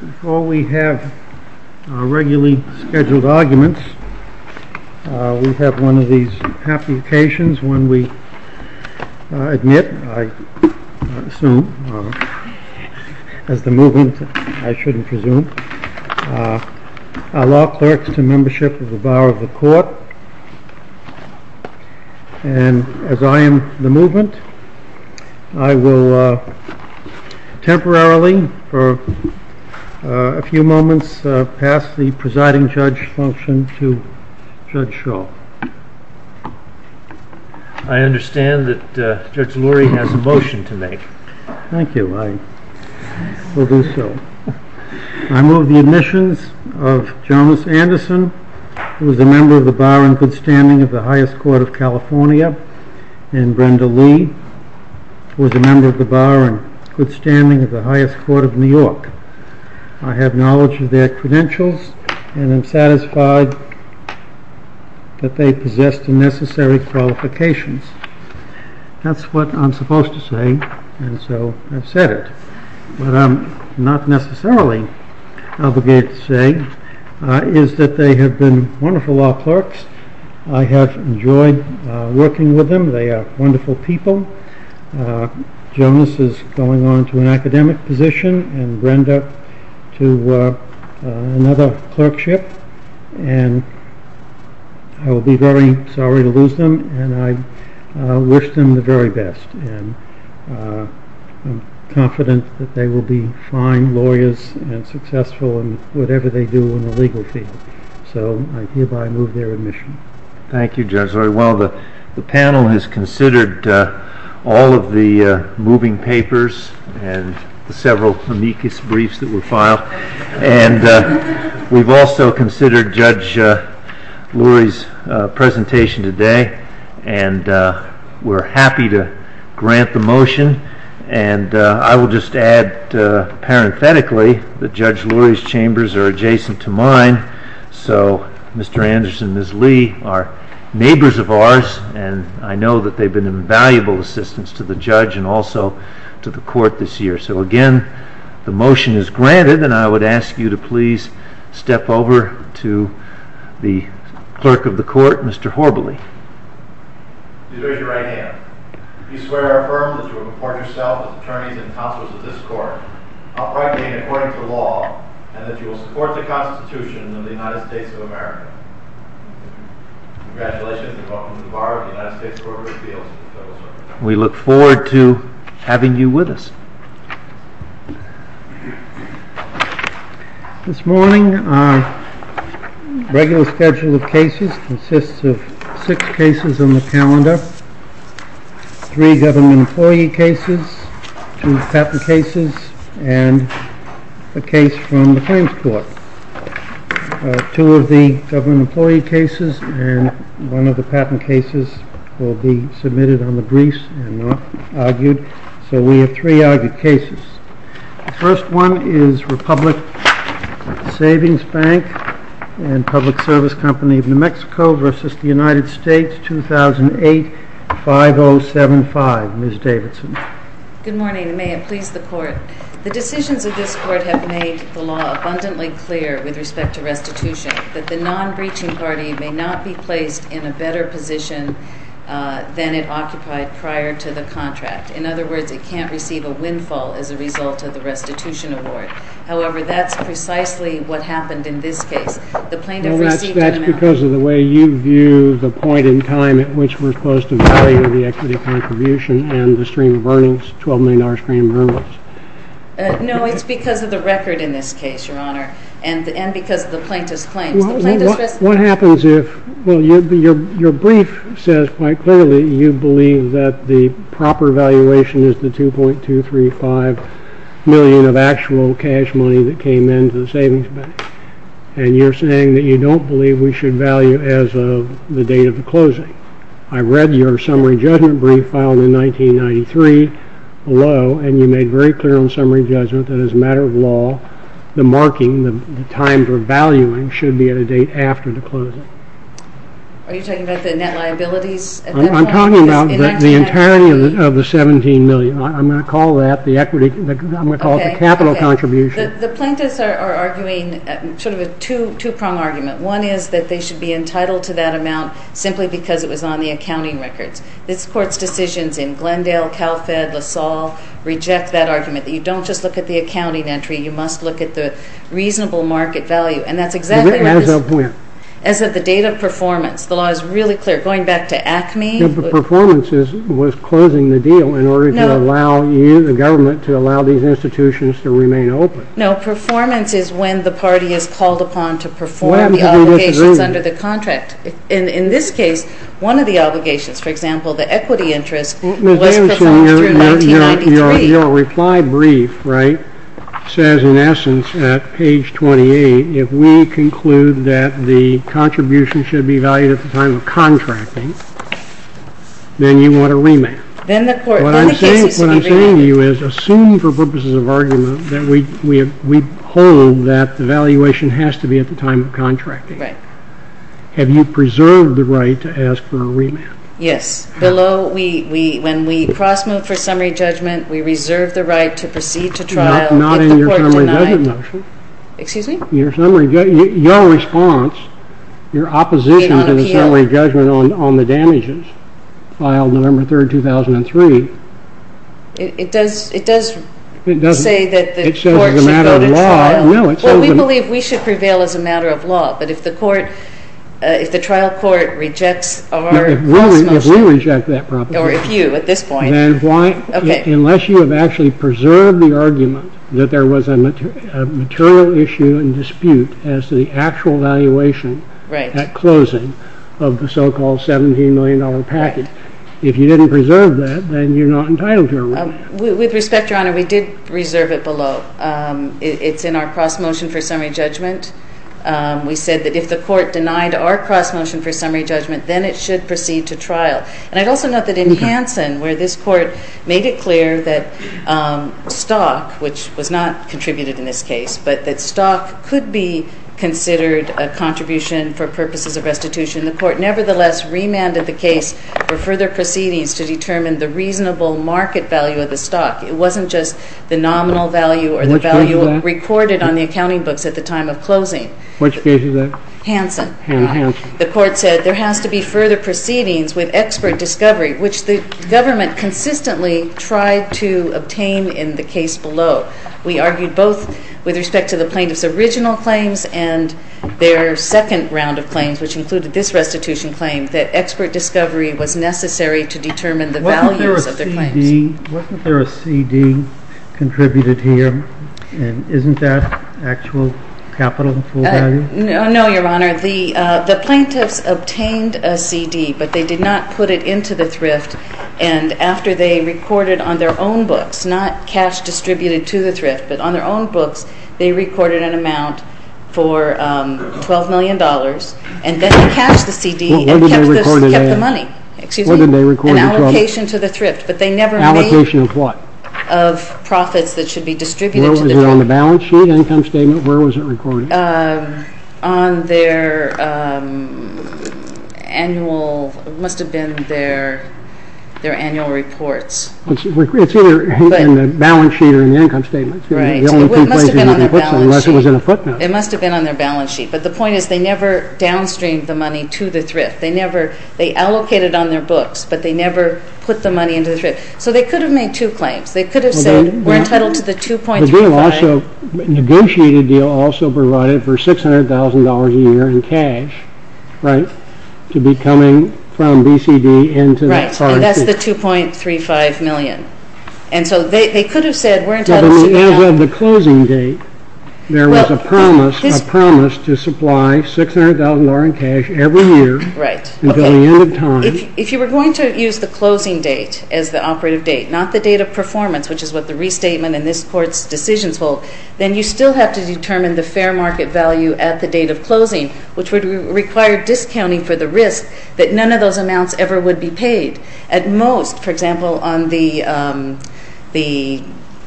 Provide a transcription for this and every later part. Before we have our regularly scheduled arguments, we have one of these happy occasions when we admit, I assume, as the movement, I shouldn't presume, our law clerks to membership of the Bar of the Court. And as I am the movement, I will temporarily, for a few moments, pass the presiding judge function to Judge Shaw. I understand that Judge Lurie has a motion to make. Thank you. I will do so. I move the admissions of Jonas Anderson, who is a member of the Bar and Good Standing of the Highest Court of California, and Brenda Lee, who is a member of the Bar and Good Standing of the Highest Court of New York. I have knowledge of their credentials and am satisfied that they possess the necessary qualifications. That's what I'm supposed to say, and so I've said it. What I'm not necessarily obligated to say is that they have been wonderful law clerks. I have enjoyed working with them. They are wonderful people. Jonas is going on to an academic position, and Brenda to another clerkship. And I will be very sorry to lose them, and I wish them the very best. And I'm confident that they will be fine lawyers and successful in whatever they do in the legal field. So I hereby move their admission. Thank you, Judge Lurie. Well, the panel has considered all of the moving papers and the several amicus briefs that were filed. And we've also considered Judge Lurie's presentation today, and we're happy to grant the motion. And I will just add parenthetically that Judge Lurie's chambers are adjacent to mine. So Mr. Anderson and Ms. Lee are neighbors of ours, and I know that they've been invaluable assistants to the judge and also to the court this year. So again, the motion is granted, and I would ask you to please step over to the clerk of the court, Mr. Horbally. Please raise your right hand. Do you swear or affirm that you will report yourself as attorneys and counselors of this court, uprightly and according to law, and that you will support the Constitution of the United States of America? Congratulations, and welcome to the bar of the United States Court of Appeals. We look forward to having you with us. This morning our regular schedule of cases consists of six cases on the calendar, three government employee cases, two patent cases, and a case from the claims court. Two of the government employee cases and one of the patent cases will be submitted on the briefs and not argued. So we have three argued cases. The first one is Republic Savings Bank and Public Service Company of New Mexico v. United States 2008-5075. Ms. Davidson. Good morning, and may it please the court. The decisions of this court have made the law abundantly clear with respect to restitution that the non-breaching party may not be placed in a better position than it occupied prior to the contract. In other words, it can't receive a windfall as a result of the restitution award. However, that's precisely what happened in this case. The plaintiff received an amount. Well, that's because of the way you view the point in time at which we're supposed to value the equity contribution and the stream of earnings, $12 million stream of earnings. No, it's because of the record in this case, Your Honor, and because of the plaintiff's claims. What happens if, well, your brief says quite clearly you believe that the proper valuation is the $2.235 million of actual cash money that came into the savings bank, and you're saying that you don't believe we should value as of the date of the closing. I read your summary judgment brief filed in 1993 below, and you made very clear on summary judgment that as a matter of law, the marking, the times we're valuing should be at a date after the closing. Are you talking about the net liabilities at that point? I'm talking about the entirety of the $17 million. I'm going to call that the equity. I'm going to call it the capital contribution. The plaintiffs are arguing sort of a two-prong argument. One is that they should be entitled to that amount simply because it was on the accounting records. This Court's decisions in Glendale, CalFed, LaSalle reject that argument, that you don't just look at the accounting entry. You must look at the reasonable market value, and that's exactly what this is. As of when? As of the date of performance. The law is really clear. Going back to ACME. The performance was closing the deal in order to allow you, the government, to allow these institutions to remain open. No, performance is when the party is called upon to perform the obligations under the contract. In this case, one of the obligations, for example, the equity interest was presented through 1993. Your reply brief, right, says in essence at page 28, if we conclude that the contribution should be valued at the time of contracting, then you want a remand. What I'm saying to you is assume for purposes of argument that we hold that the valuation has to be at the time of contracting. Right. Have you preserved the right to ask for a remand? Yes. Below, when we cross-move for summary judgment, we reserve the right to proceed to trial. Not in your summary judgment motion. Excuse me? Your summary judgment, your response, your opposition to the summary judgment on the damages filed November 3rd, 2003. It does say that the court should go to trial. It says as a matter of law. Well, we believe we should prevail as a matter of law, but if the trial court rejects our cross-motion. If we reject that proposition. Or if you at this point. Unless you have actually preserved the argument that there was a material issue and dispute as to the actual valuation at closing of the so-called $17 million package. If you didn't preserve that, then you're not entitled to a remand. With respect, Your Honor, we did reserve it below. It's in our cross-motion for summary judgment. We said that if the court denied our cross-motion for summary judgment, then it should proceed to trial. And I'd also note that in Hanson, where this court made it clear that stock, which was not contributed in this case, but that stock could be considered a contribution for purposes of restitution, the court nevertheless remanded the case for further proceedings to determine the reasonable market value of the stock. It wasn't just the nominal value or the value recorded on the accounting books at the time of closing. Which case was that? Hanson. Hanson. The court said there has to be further proceedings with expert discovery, which the government consistently tried to obtain in the case below. We argued both with respect to the plaintiff's original claims and their second round of claims, which included this restitution claim, that expert discovery was necessary to determine the values of their claims. Wasn't there a CD contributed here? And isn't that actual capital in full value? No, Your Honor. The plaintiffs obtained a CD, but they did not put it into the thrift. And after they recorded on their own books, not cash distributed to the thrift, but on their own books, they recorded an amount for $12 million, and then they cashed the CD and kept the money. An allocation to the thrift. Allocation of what? Of profits that should be distributed to the thrift. Was it on the balance sheet, income statement? Where was it recorded? On their annual, it must have been their annual reports. It's either in the balance sheet or in the income statement. Right. It must have been on their balance sheet. Unless it was in a footnote. It must have been on their balance sheet. But the point is they never downstreamed the money to the thrift. They allocated on their books, but they never put the money into the thrift. So they could have made two claims. They could have said, we're entitled to the $2.35 million. The deal also, the negotiated deal also provided for $600,000 a year in cash, right, to be coming from BCD into the foreign exchange. Right, and that's the $2.35 million. And so they could have said, we're entitled to the $2.35 million. If you were going to use the closing date as the operative date, not the date of performance, which is what the restatement and this Court's decisions hold, then you still have to determine the fair market value at the date of closing, which would require discounting for the risk that none of those amounts ever would be paid. At most, for example, on the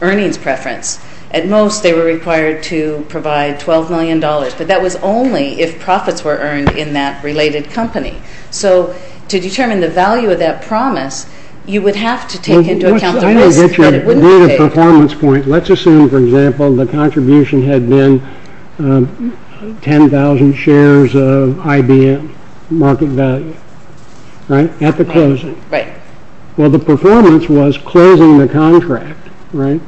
earnings preference, at most they were required to provide $12 million. But that was only if profits were earned in that related company. So to determine the value of that promise, you would have to take into account the risk that it wouldn't be paid. Let's assume, for example, the contribution had been 10,000 shares of IBM market value, right, at the closing. Right. Well, the performance was closing the contract, right?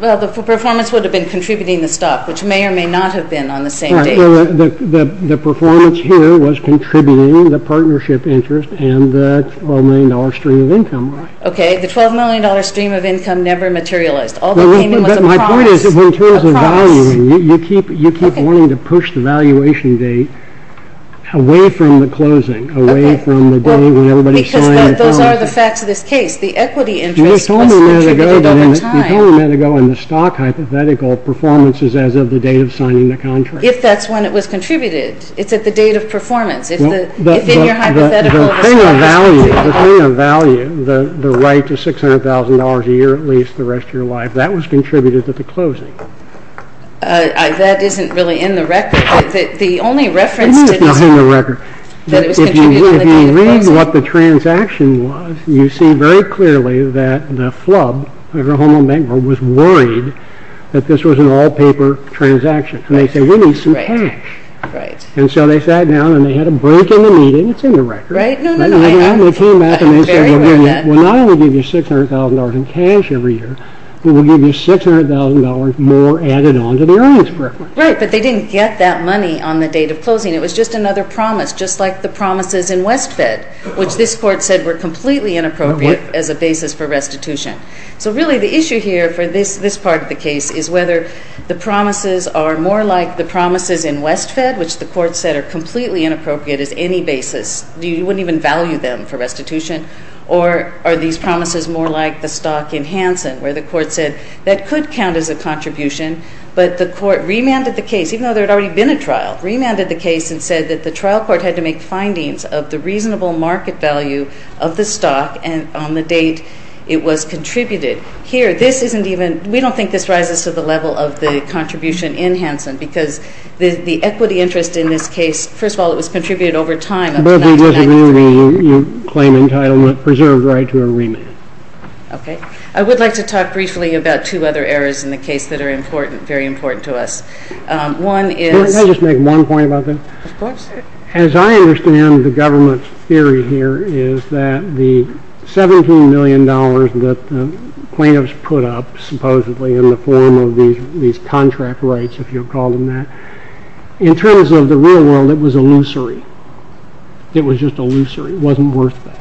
Well, the performance would have been contributing the stock, which may or may not have been on the same date. Right. The performance here was contributing the partnership interest and the $12 million stream of income. Right. Okay, the $12 million stream of income never materialized. All that came in was a promise, a promise. My point is, when it comes to valuing, you keep wanting to push the valuation date away from the closing, away from the day when everybody signed the contract. Because those are the facts of this case. The equity interest was contributed over time. You told me a minute ago that in the stock hypothetical, performance is as of the date of signing the contract. If that's when it was contributed. It's at the date of performance. If in your hypothetical, the stock was contributed. The thing of value, the thing of value, the right to $600,000 a year at least the rest of your life, that was contributed at the closing. That isn't really in the record. The only reference to this. No, it's not in the record. If you read what the transaction was, you see very clearly that the FLUB, the Home Owned Bank Group, was worried that this was an all-paper transaction. And they said, we need some cash. And so they sat down and they had a break in the meeting. It's in the record. And they came back and they said, we'll not only give you $600,000 in cash every year, but we'll give you $600,000 more added on to the earnings report. Right, but they didn't get that money on the date of closing. It was just another promise, just like the promises in Westfed, which this court said were completely inappropriate as a basis for restitution. So really the issue here for this part of the case is whether the promises are more like the promises in Westfed, which the court said are completely inappropriate as any basis. You wouldn't even value them for restitution. Or are these promises more like the stock in Hanson, where the court said that could count as a contribution, but the court remanded the case, even though there had already been a trial, remanded the case and said that the trial court had to make findings of the reasonable market value of the stock and on the date it was contributed. Here, this isn't even, we don't think this rises to the level of the contribution in Hanson, because the equity interest in this case, first of all, it was contributed over time up to 1993. But if you disagree with me, you claim entitlement preserved right to a remand. Okay. I would like to talk briefly about two other errors in the case that are important, very important to us. Can I just make one point about that? Of course. As I understand the government's theory here is that the $17 million that the plaintiffs put up, supposedly in the form of these contract rights, if you call them that, in terms of the real world, it was illusory. It was just illusory. It wasn't worth that.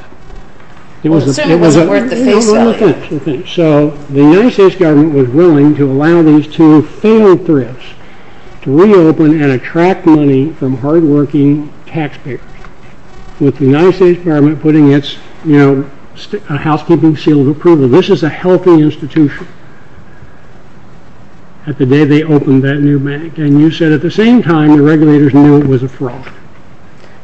It certainly wasn't worth the face value. So the United States government was willing to allow these two failed thrifts to reopen and attract money from hardworking taxpayers, with the United States government putting its housekeeping seal of approval. This is a healthy institution. At the day they opened that new bank, and you said at the same time the regulators knew it was a fraud.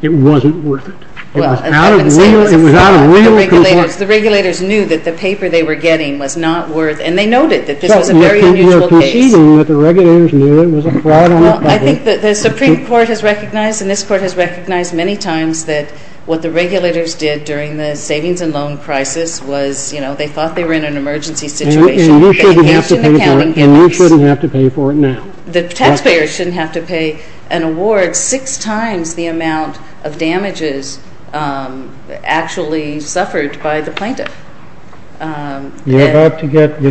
It wasn't worth it. It was out of real concern. The regulators knew that the paper they were getting was not worth it, and they noted that this was a very unusual case. You're conceding that the regulators knew it was a fraud on their part. Well, I think that the Supreme Court has recognized and this Court has recognized many times that what the regulators did during the savings and loan crisis was, you know, they thought they were in an emergency situation. They engaged in accounting gimmicks. And you shouldn't have to pay for it now. The taxpayers shouldn't have to pay an award six times the amount of damages actually suffered by the plaintiff. You're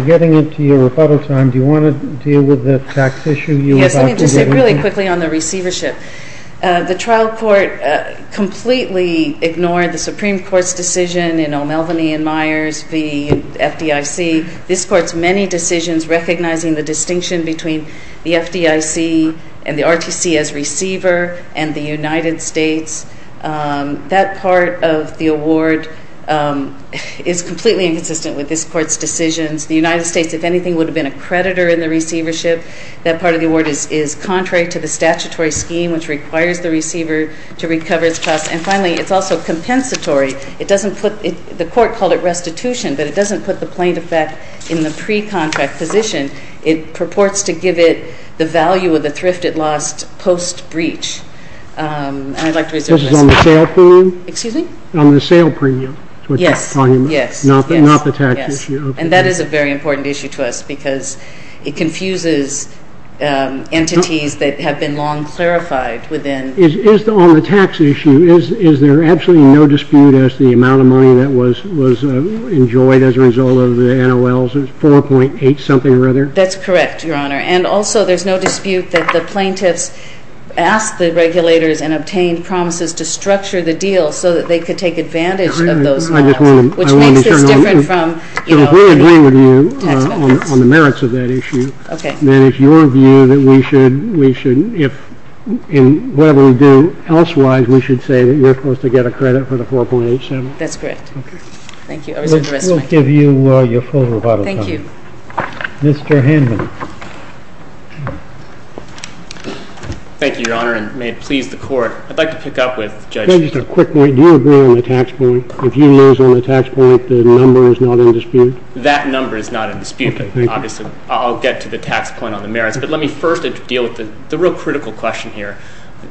getting into your rebuttal time. Do you want to deal with the tax issue you were about to deal with? Yes, let me just say really quickly on the receivership. The trial court completely ignored the Supreme Court's decision in O'Melveny and Myers v. FDIC. This Court's many decisions recognizing the distinction between the FDIC and the RTC as receiver and the United States, that part of the award is completely inconsistent with this Court's decisions. The United States, if anything, would have been a creditor in the receivership. That part of the award is contrary to the statutory scheme, which requires the receiver to recover its trust. And finally, it's also compensatory. The Court called it restitution, but it doesn't put the plaintiff back in the pre-contract position. It purports to give it the value of the thrift it lost post-breach. This is on the sale premium? Excuse me? On the sale premium. Yes. Not the tax issue. And that is a very important issue to us because it confuses entities that have been long clarified within. On the tax issue, is there absolutely no dispute as to the amount of money that was enjoyed as a result of the NOLs? 4.8 something or other? That's correct, Your Honor. And also, there's no dispute that the plaintiffs asked the regulators and obtained promises to structure the deal so that they could take advantage of those NOLs, which makes this different from, you know, the tax benefits. So if we agree with you on the merits of that issue, then it's your view that we should, if in whatever we do elsewise, we should say that you're supposed to get a credit for the 4.87? That's correct. Okay. Thank you. We'll give you your full rebuttal time. Thank you. Mr. Hanlon. Thank you, Your Honor, and may it please the Court. I'd like to pick up with Judge Stewart. Just a quick point. Do you agree on the tax point? If you lose on the tax point, the number is not in dispute? That number is not in dispute. Obviously, I'll get to the tax point on the merits. But let me first deal with the real critical question here.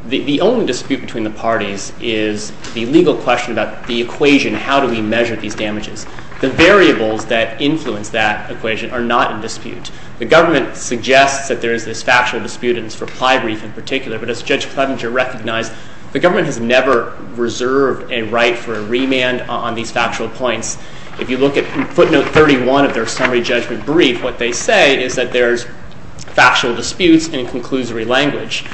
The only dispute between the parties is the legal question about the equation, how do we measure these damages? The variables that influence that equation are not in dispute. The government suggests that there is this factual dispute in this reply brief in particular, but as Judge Clevenger recognized, the government has never reserved a right for a remand on these factual points. If you look at footnote 31 of their summary judgment brief, what they say is that there's factual disputes in conclusory language.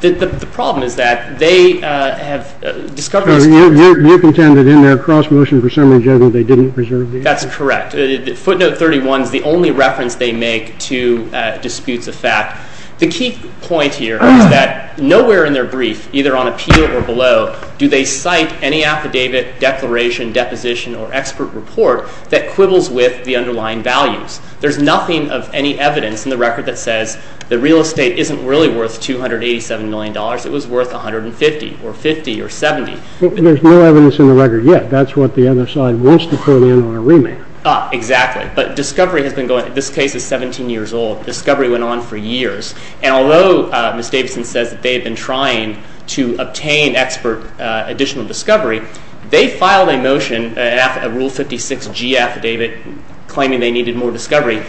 The problem is that they have discovered these facts. So you contend that in their cross-motion for summary judgment, they didn't reserve these? That's correct. Footnote 31 is the only reference they make to disputes of fact. The key point here is that nowhere in their brief, either on appeal or below, do they cite any affidavit, declaration, deposition, or expert report that quibbles with the underlying values. There's nothing of any evidence in the record that says the real estate isn't really worth $287 million. It was worth $150 or $50 or $70. There's no evidence in the record yet. That's what the other side wants to put in on a remand. Exactly. But discovery has been going on. This case is 17 years old. Discovery went on for years. And although Ms. Davidson says that they have been trying to obtain expert additional discovery, they filed a motion, a Rule 56G affidavit, claiming they needed more discovery.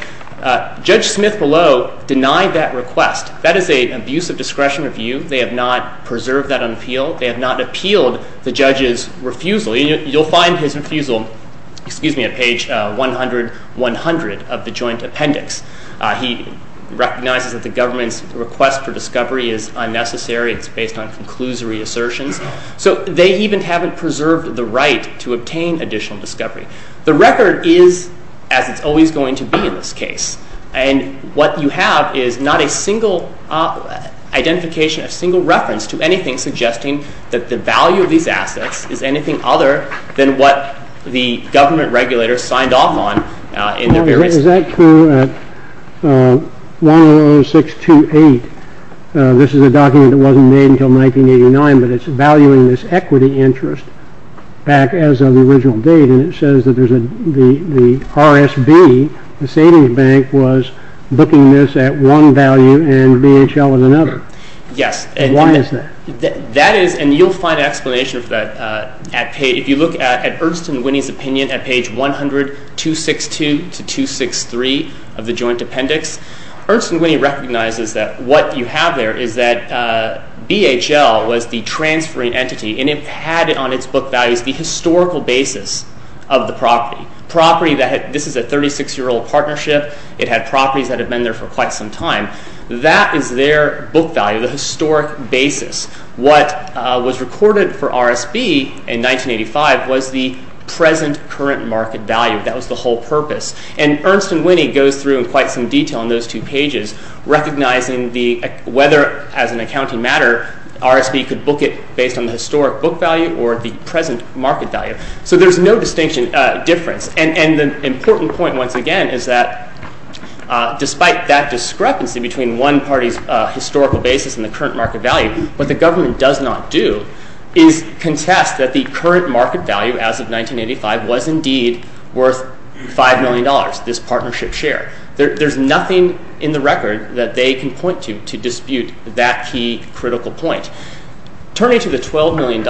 Judge Smith below denied that request. That is an abusive discretion review. They have not preserved that on appeal. They have not appealed the judge's refusal. You'll find his refusal, excuse me, at page 100-100 of the joint appendix. He recognizes that the government's request for discovery is unnecessary. It's based on conclusory assertions. So they even haven't preserved the right to obtain additional discovery. The record is as it's always going to be in this case. And what you have is not a single identification, a single reference to anything suggesting that the value of these assets is anything other than what the government regulators signed off on. Is that true at 100628? This is a document that wasn't made until 1989, but it's valuing this equity interest back as of the original date. And it says that the RSB, the savings bank, was booking this at one value and BHL at another. Yes. Why is that? That is, and you'll find an explanation for that at page, if you look at Ernst and Winnie's opinion at page 100-262-263 of the joint appendix, Ernst and Winnie recognizes that what you have there is that BHL was the transferring entity and it had on its book values the historical basis of the property. This is a 36-year-old partnership. It had properties that had been there for quite some time. That is their book value, the historic basis. What was recorded for RSB in 1985 was the present current market value. That was the whole purpose. And Ernst and Winnie goes through in quite some detail in those two pages, recognizing whether, as an accounting matter, RSB could book it based on the historic book value or the present market value. So there's no distinction difference. And the important point, once again, is that despite that discrepancy between one party's historical basis and the current market value, what the government does not do is contest that the current market value as of 1985 was indeed worth $5 million, this partnership share. There's nothing in the record that they can point to to dispute that key critical point. Turning to the $12 million,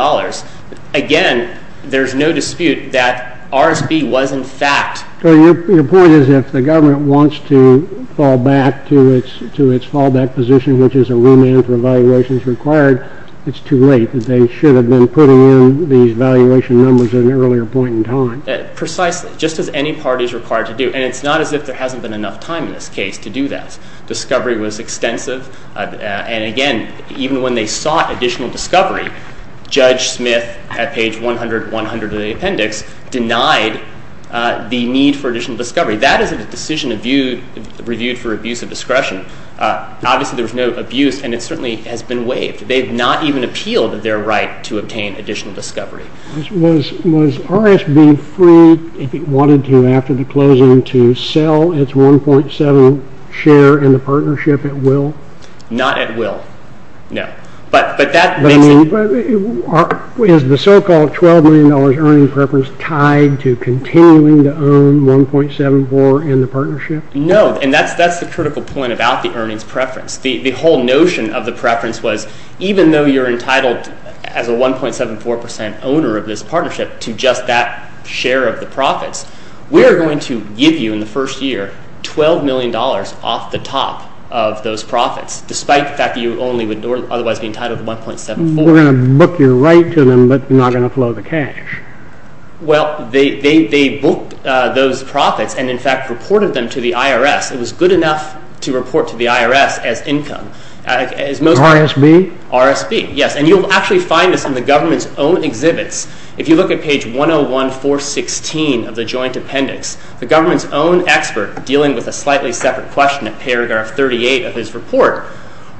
again, there's no dispute that RSB was in fact So your point is if the government wants to fall back to its fallback position, which is a remand for valuations required, it's too late. They should have been putting in these valuation numbers at an earlier point in time. Precisely, just as any party is required to do. And it's not as if there hasn't been enough time in this case to do that. Discovery was extensive. And again, even when they sought additional discovery, Judge Smith, at page 100 of the appendix, denied the need for additional discovery. That is a decision reviewed for abuse of discretion. Obviously, there was no abuse, and it certainly has been waived. They have not even appealed their right to obtain additional discovery. Was RSB free, if it wanted to after the closing, to sell its 1.7 share in the partnership at will? Not at will, no. But is the so-called $12 million earnings preference tied to continuing to own 1.74 in the partnership? No, and that's the critical point about the earnings preference. The whole notion of the preference was even though you're entitled, as a 1.74 percent owner of this partnership, to just that share of the profits, we're going to give you in the first year $12 million off the top of those profits, despite the fact that you only would otherwise be entitled to 1.74. We're going to book your right to them, but we're not going to flow the cash. Well, they booked those profits and, in fact, reported them to the IRS. It was good enough to report to the IRS as income. RSB? RSB, yes. And you'll actually find this in the government's own exhibits. If you look at page 101.416 of the joint appendix, the government's own expert, dealing with a slightly separate question at paragraph 38 of his report,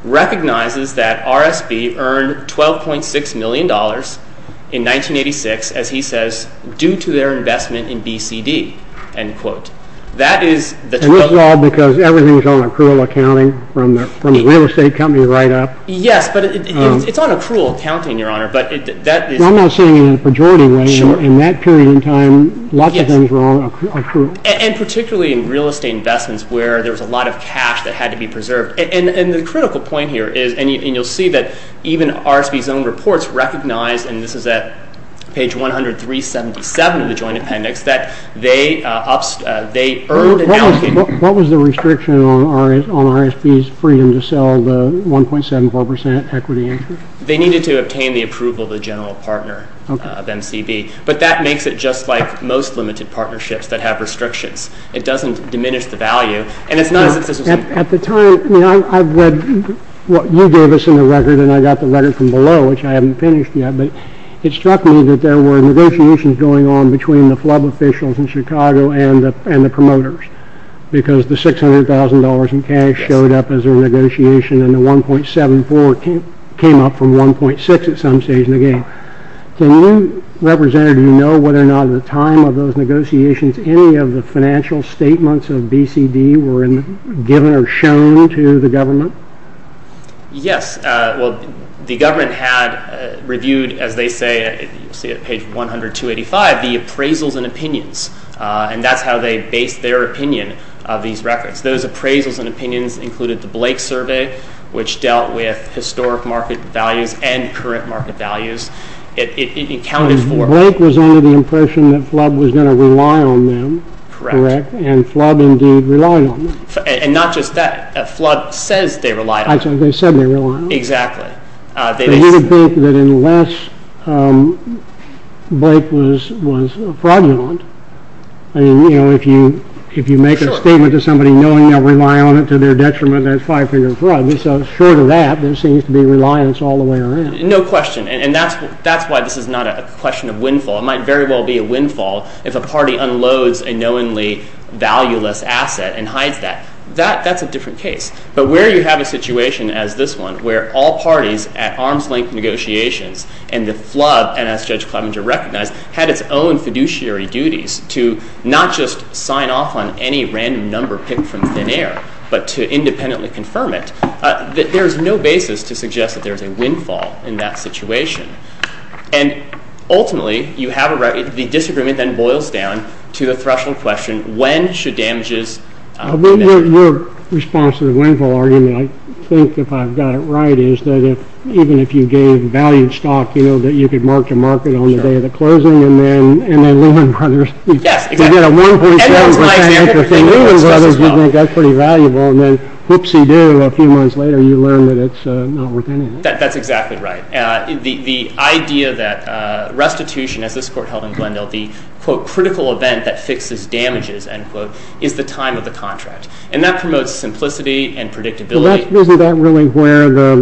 recognizes that RSB earned $12.6 million in 1986, as he says, due to their investment in BCD, end quote. And this is all because everything is on accrual accounting from the real estate company right up? Yes, but it's on accrual accounting, Your Honor. I'm not saying in a pejorative way. In that period of time, lots of things were on accrual. And particularly in real estate investments where there was a lot of cash that had to be preserved. And the critical point here is, and you'll see that even RSB's own reports recognize, and this is at page 103.77 of the joint appendix, that they earned. What was the restriction on RSB's freedom to sell the 1.74% equity interest? They needed to obtain the approval of the general partner of MCB. But that makes it just like most limited partnerships that have restrictions. It doesn't diminish the value. At the time, I've read what you gave us in the record, and I got the record from below, which I haven't finished yet, but it struck me that there were negotiations going on between the flub officials in Chicago and the promoters. Because the $600,000 in cash showed up as a negotiation, and the 1.74 came up from 1.6 at some stage in the game. Can you, Representative, know whether or not at the time of those negotiations, any of the financial statements of BCD were given or shown to the government? Yes. Well, the government had reviewed, as they say at page 100.285, the appraisals and opinions, and that's how they based their opinion of these records. Those appraisals and opinions included the Blake survey, which dealt with historic market values and current market values. It accounted for... And Blake was under the impression that flub was going to rely on them. Correct. And flub indeed relied on them. And not just that. A flub says they rely on them. They said they relied on them. Exactly. They didn't think that unless Blake was fraudulent, I mean, you know, if you make a statement to somebody knowing they'll rely on it to their detriment, that's five-finger fraud. Short of that, there seems to be reliance all the way around. No question. And that's why this is not a question of windfall. It might very well be a windfall if a party unloads a knowingly valueless asset and hides that. That's a different case. But where you have a situation as this one, where all parties at arms-length negotiations and the flub, and as Judge Clevenger recognized, had its own fiduciary duties to not just sign off on any random number picked from thin air, but to independently confirm it, there is no basis to suggest that there is a windfall in that situation. And ultimately, the disagreement then boils down to the threshold question, when should damages be measured? Your response to the windfall argument, I think, if I've got it right, is that even if you gave valued stock, you know, that you could mark to market on the day of the closing, and then Lehman Brothers. Yes, exactly. And that's my example. If you get a 1.7% interest from Lehman Brothers, you think that's pretty valuable, and then whoopsie-doo, a few months later, you learn that it's not worth anything. The idea that restitution, as this Court held in Glendale, the, quote, critical event that fixes damages, end quote, is the time of the contract. And that promotes simplicity and predictability. Well, isn't that really where the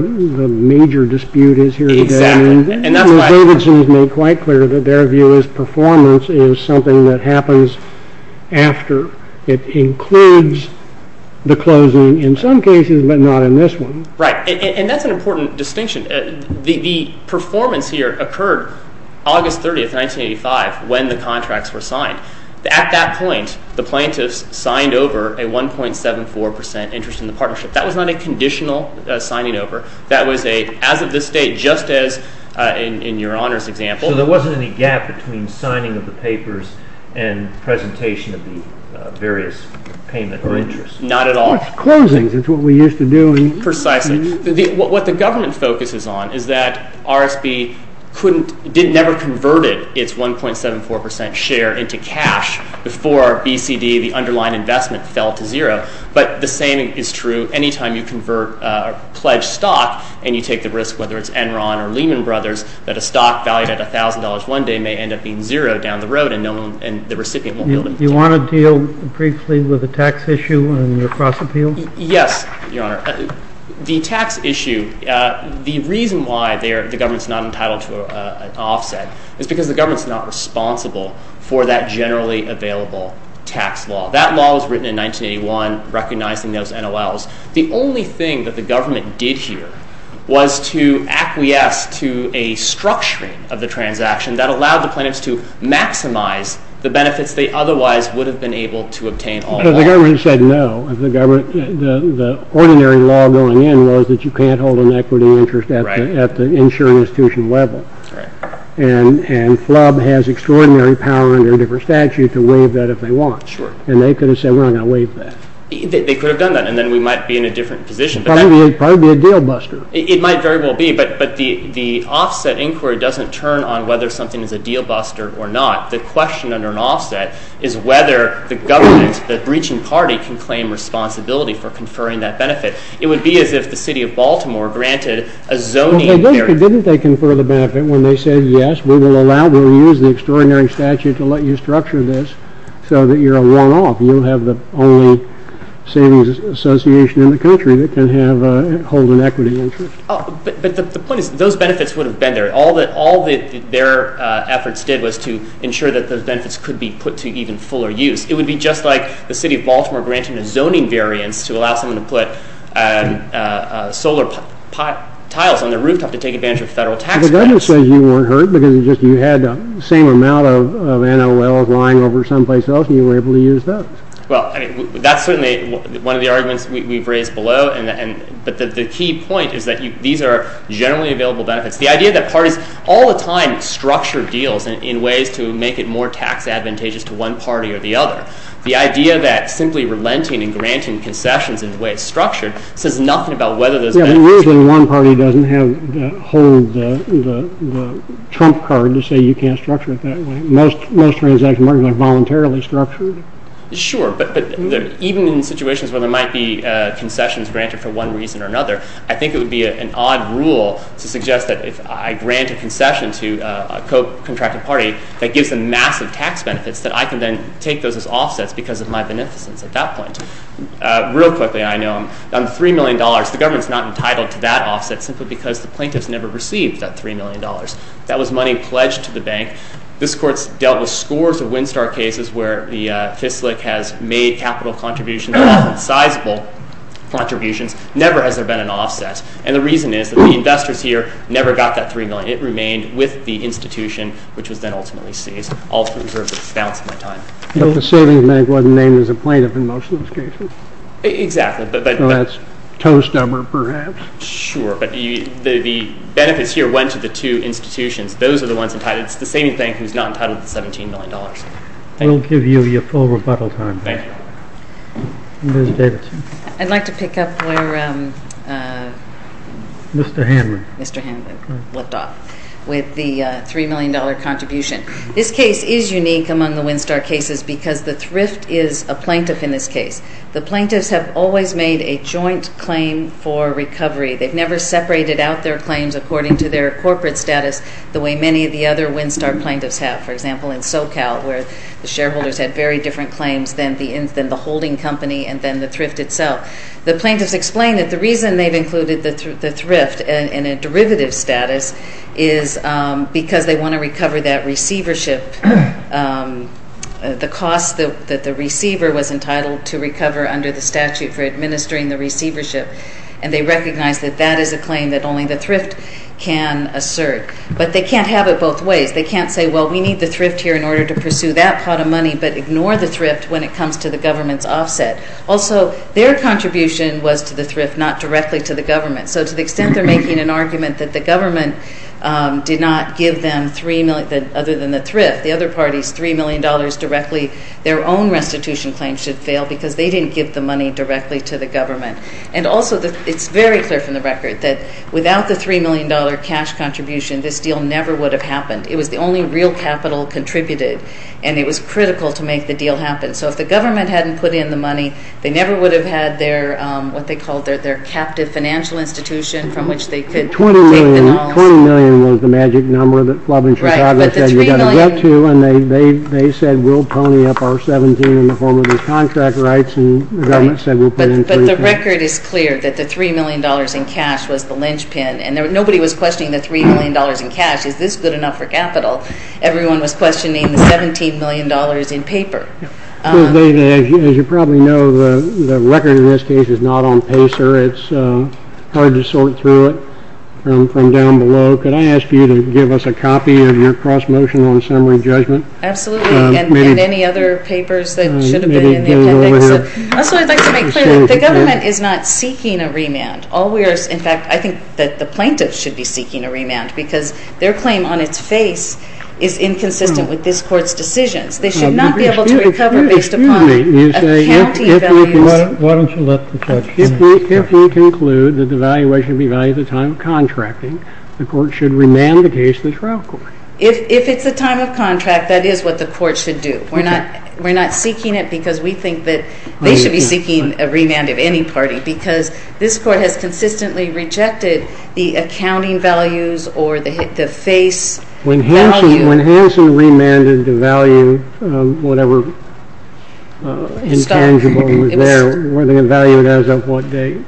major dispute is here today? Exactly, and that's why... Davidson's made quite clear that their view is performance is something that happens after. It includes the closing in some cases, but not in this one. Right, and that's an important distinction. The performance here occurred August 30, 1985, when the contracts were signed. At that point, the plaintiffs signed over a 1.74% interest in the partnership. That was not a conditional signing over. That was a, as of this date, just as in your Honor's example... So there wasn't any gap between signing of the papers and presentation of the various payment of interest. Not at all. It's closings. It's what we used to do. Precisely. What the government focuses on is that RSB never converted its 1.74% share into cash before BCD, the underlying investment, fell to zero. But the same is true any time you convert a pledged stock and you take the risk, whether it's Enron or Lehman Brothers, that a stock valued at $1,000 one day may end up being zero down the road and the recipient won't be able to... Do you want to deal briefly with the tax issue and your cross-appeals? Yes, Your Honor. The tax issue, the reason why the government's not entitled to an offset is because the government's not responsible for that generally available tax law. That law was written in 1981, recognizing those NOLs. The only thing that the government did here was to acquiesce to a structuring of the transaction that allowed the plaintiffs to maximize the benefits they otherwise would have been able to obtain all along. The government said no. The ordinary law going in was that you can't hold an equity interest at the insuring institution level. And FLUB has extraordinary power under a different statute to waive that if they want. And they could have said, we're not going to waive that. They could have done that, and then we might be in a different position. Probably be a deal-buster. It might very well be, but the offset inquiry doesn't turn on whether something is a deal-buster or not. The question under an offset is whether the government, the breaching party, can claim responsibility for conferring that benefit. It would be as if the city of Baltimore granted a zoning barrier. Well, they did, but didn't they confer the benefit when they said, yes, we will allow, we'll use the extraordinary statute to let you structure this so that you're a one-off. You'll have the only savings association in the country that can hold an equity interest. But the point is, those benefits would have been there. All that their efforts did was to ensure that those benefits could be put to even fuller use. It would be just like the city of Baltimore granting a zoning variance to allow someone to put solar tiles on their rooftop to take advantage of federal tax credits. But the government says you weren't hurt because you had the same amount of NOLs lying over someplace else, and you were able to use those. Well, that's certainly one of the arguments we've raised below. But the key point is that these are generally available benefits. The idea that parties all the time structure deals in ways to make it more tax advantageous to one party or the other. The idea that simply relenting and granting concessions in the way it's structured says nothing about whether those benefits- The reason one party doesn't hold the trump card to say you can't structure it that way. Most transaction markets are voluntarily structured. Sure, but even in situations where there might be concessions granted for one reason or another, I think it would be an odd rule to suggest that if I grant a concession to a co-contracted party that gives them massive tax benefits, that I can then take those as offsets because of my beneficence at that point. Real quickly, I know I'm $3 million. The government's not entitled to that offset simply because the plaintiffs never received that $3 million. That was money pledged to the bank. This court's dealt with scores of Winstar cases where the FISLIC has made capital contributions, sizable contributions. Never has there been an offset. And the reason is that the investors here never got that $3 million. It remained with the institution, which was then ultimately seized. I'll reserve the balance of my time. But the savings bank wasn't named as a plaintiff in most of those cases? Exactly, but- So that's toast number, perhaps? Sure, but the benefits here went to the two institutions. Those are the ones entitled. It's the same bank who's not entitled to the $17 million. We'll give you your full rebuttal time. Thank you. Ms. Davidson. I'd like to pick up where Mr. Hanlon left off with the $3 million contribution. This case is unique among the Winstar cases because the thrift is a plaintiff in this case. The plaintiffs have always made a joint claim for recovery. They've never separated out their claims according to their corporate status the way many of the other Winstar plaintiffs have. For example, in SoCal, where the shareholders had very different claims than the holding company and then the thrift itself. The plaintiffs explain that the reason they've included the thrift in a derivative status is because they want to recover that receivership, the cost that the receiver was entitled to recover under the statute for administering the receivership, and they recognize that that is a claim that only the thrift can assert. But they can't have it both ways. They can't say, well, we need the thrift here in order to pursue that pot of money but ignore the thrift when it comes to the government's offset. Also, their contribution was to the thrift, not directly to the government. So to the extent they're making an argument that the government did not give them, other than the thrift, the other parties $3 million directly, their own restitution claim should fail because they didn't give the money directly to the government. And also it's very clear from the record that without the $3 million cash contribution, this deal never would have happened. It was the only real capital contributed, and it was critical to make the deal happen. So if the government hadn't put in the money, they never would have had what they called their captive financial institution from which they could take the dollars. $20 million was the magic number that Flubb and Chicago said you've got to get to, and they said we'll pony up our 17 in the form of these contract rights, and the government said we'll put in $20 million. But the record is clear that the $3 million in cash was the linchpin, and nobody was questioning the $3 million in cash. Is this good enough for capital? Everyone was questioning the $17 million in paper. As you probably know, the record in this case is not on PACER. It's hard to sort through it from down below. Could I ask you to give us a copy of your cross-motion on summary judgment? Absolutely, and any other papers that should have been in the appendix. That's what I'd like to make clear. The government is not seeking a remand. In fact, I think that the plaintiffs should be seeking a remand because their claim on its face is inconsistent with this court's decisions. They should not be able to recover based upon accounting values. Why don't you let the judge finish? If we conclude that the valuation should be valued at the time of contracting, the court should remand the case to the trial court. If it's the time of contract, that is what the court should do. We're not seeking it because we think that they should be seeking a remand of any party because this court has consistently rejected the accounting values or the face value. When Hanson remanded the value, whatever intangible was there, were they valued as of what date?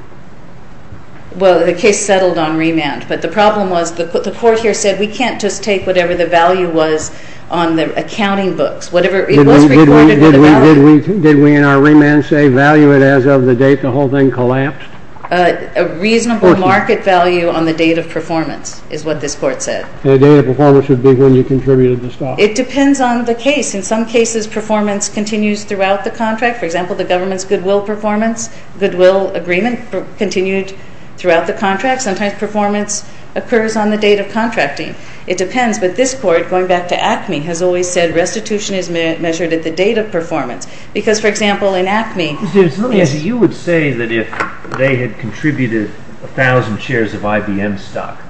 Well, the case settled on remand, but the problem was the court here said we can't just take whatever the value was on the accounting books. It was recorded with a value. Did we in our remand say value it as of the date the whole thing collapsed? A reasonable market value on the date of performance is what this court said. The date of performance would be when you contributed the stock. It depends on the case. In some cases, performance continues throughout the contract. For example, the government's goodwill performance, goodwill agreement, continued throughout the contract. Sometimes performance occurs on the date of contracting. It depends, but this court, going back to ACME, has always said restitution is measured at the date of performance. Because, for example, in ACME, Let me ask you, you would say that if they had contributed 1,000 shares of IBM stock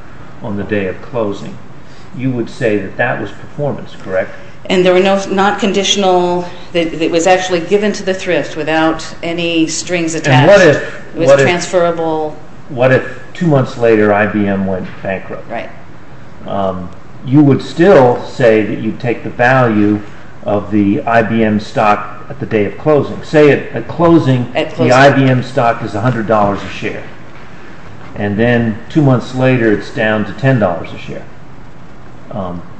on the day of closing, you would say that that was performance, correct? And there were not conditional, that it was actually given to the thrift without any strings attached, it was transferable. What if two months later IBM went bankrupt? Right. You would still say that you'd take the value of the IBM stock at the day of closing. Say at closing, the IBM stock is $100 a share, and then two months later it's down to $10 a share.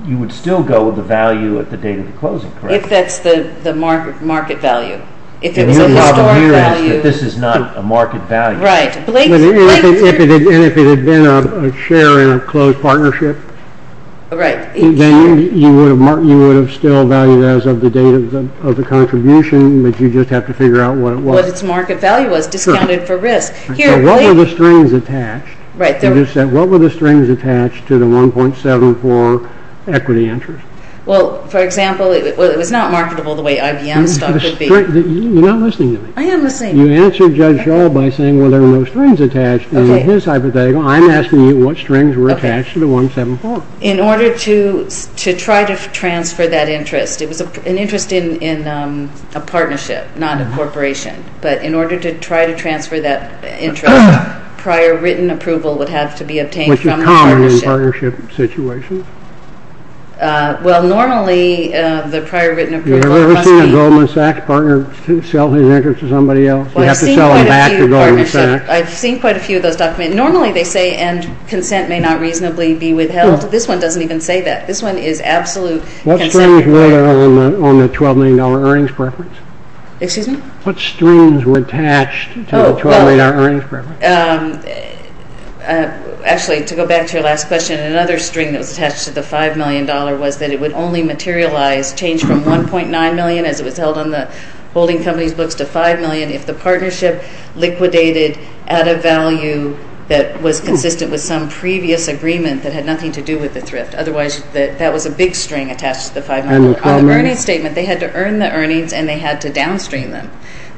You would still go with the value at the date of the closing, correct? If that's the market value. And your model here is that this is not a market value. Right. And if it had been a share in a closed partnership, then you would have still valued it as of the date of the contribution, but you'd just have to figure out what it was. What its market value was, discounted for risk. So what were the strings attached? You just said, what were the strings attached to the 1.74 equity interest? Well, for example, it was not marketable the way IBM stock would be. You're not listening to me. I am listening. You answered Judge Shaw by saying, well, there were no strings attached. That was his hypothetical. I'm asking you what strings were attached to the 1.74. In order to try to transfer that interest, it was an interest in a partnership, not a corporation. But in order to try to transfer that interest, prior written approval would have to be obtained from the partnership. Which is common in partnership situations. Well, normally the prior written approval must be... I've seen quite a few of those documents. Normally they say, and consent may not reasonably be withheld. This one doesn't even say that. This one is absolute consent. What strings were there on the $12 million earnings preference? Excuse me? What strings were attached to the $12 million earnings preference? Actually, to go back to your last question, another string that was attached to the $5 million was that it would only materialize change from $1.9 million as it was held on the holding company's books to $5 million if the partnership liquidated at a value that was consistent with some previous agreement that had nothing to do with the thrift. Otherwise, that was a big string attached to the $5 million. On the earnings statement, they had to earn the earnings and they had to downstream them.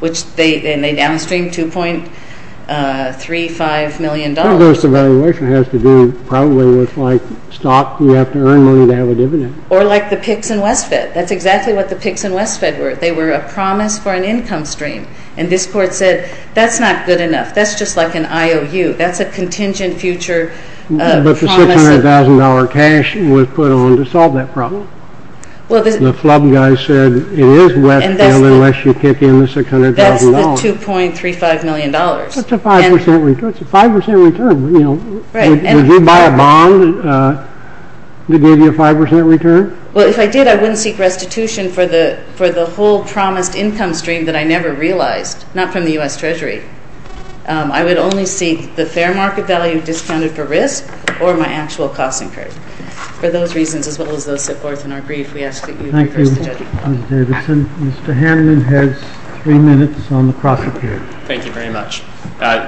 And they downstreamed $2.35 million. I guess the valuation has to do probably with, like, stock, you have to earn money to have a dividend. Or like the PICS and Westfed. That's exactly what the PICS and Westfed were. They were a promise for an income stream. And this court said, that's not good enough. That's just like an IOU. That's a contingent future promise. But the $600,000 cash was put on to solve that problem. The flub guy said, it is Westfed unless you kick in the $600,000. That's the $2.35 million. That's a 5% return. Would you buy a bond to give you a 5% return? Well, if I did, I wouldn't seek restitution for the whole promised income stream that I never realized, not from the U.S. Treasury. I would only seek the fair market value discounted for risk or my actual cost incurred. For those reasons, as well as those set forth in our brief, we ask that you reverse the judgment. Thank you, Ms. Davidson. Mr. Hanlon has three minutes on the cross-appeal. Thank you very much.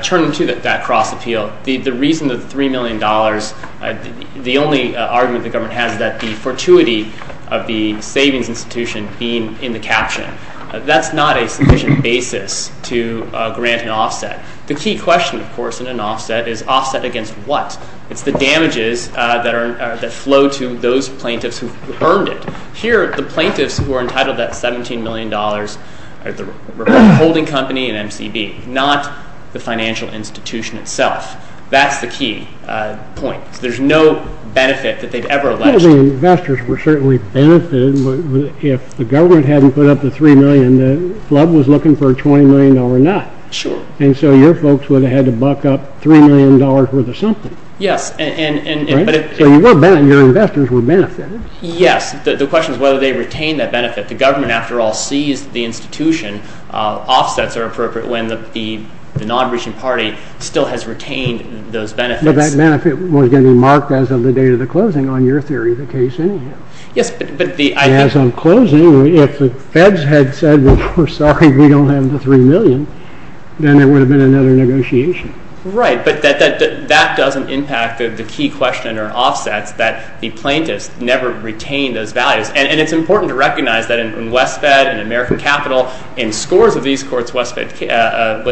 Turning to that cross-appeal, the reason that the $3 million, the only argument the government has is that the fortuity of the savings institution being in the caption, that's not a sufficient basis to grant an offset. The key question, of course, in an offset is offset against what? It's the damages that flow to those plaintiffs who've earned it. Here, the plaintiffs who are entitled to that $17 million are the holding company and MCB, not the financial institution itself. That's the key point. There's no benefit that they've ever alleged. Well, the investors were certainly benefited. If the government hadn't put up the $3 million, the club was looking for a $20 million or not. Sure. And so your folks would have had to buck up $3 million worth of something. Yes. Right? So your investors were benefited. Yes. The question is whether they retain that benefit. The government, after all, sees the institution. Offsets are appropriate when the non-region party still has retained those benefits. But that benefit was going to be marked as of the date of the closing on your theory of the case anyhow. Yes. As of closing, if the feds had said, we're sorry, we don't have the $3 million, then it would have been another negotiation. Right. But that doesn't impact the key question or offsets that the plaintiffs never retained those values. Yes. And it's important to recognize that in WestFed, in American Capital, in scores of these courts, WestFed,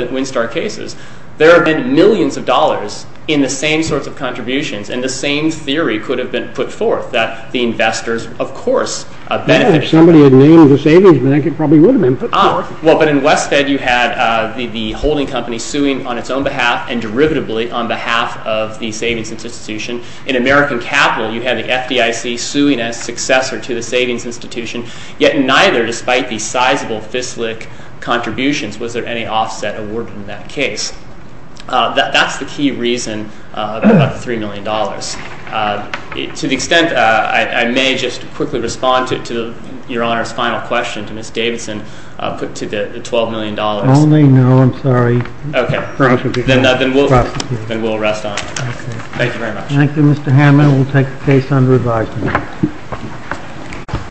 Windstar cases, there have been millions of dollars in the same sorts of contributions and the same theory could have been put forth that the investors, of course, benefited. If somebody had named the savings bank, it probably would have been put forth. Well, but in WestFed, you had the holding company suing on its own behalf and derivatively on behalf of the savings institution. In American Capital, you had the FDIC suing as successor to the savings institution, yet neither, despite the sizable FISLIC contributions, was there any offset awarded in that case. That's the key reason about the $3 million. To the extent I may just quickly respond to Your Honor's final question to Ms. Davidson, put to the $12 million. Only? No, I'm sorry. Okay. Then we'll rest on it. Thank you very much. Thank you, Mr. Hammond. We'll take the case under advisement.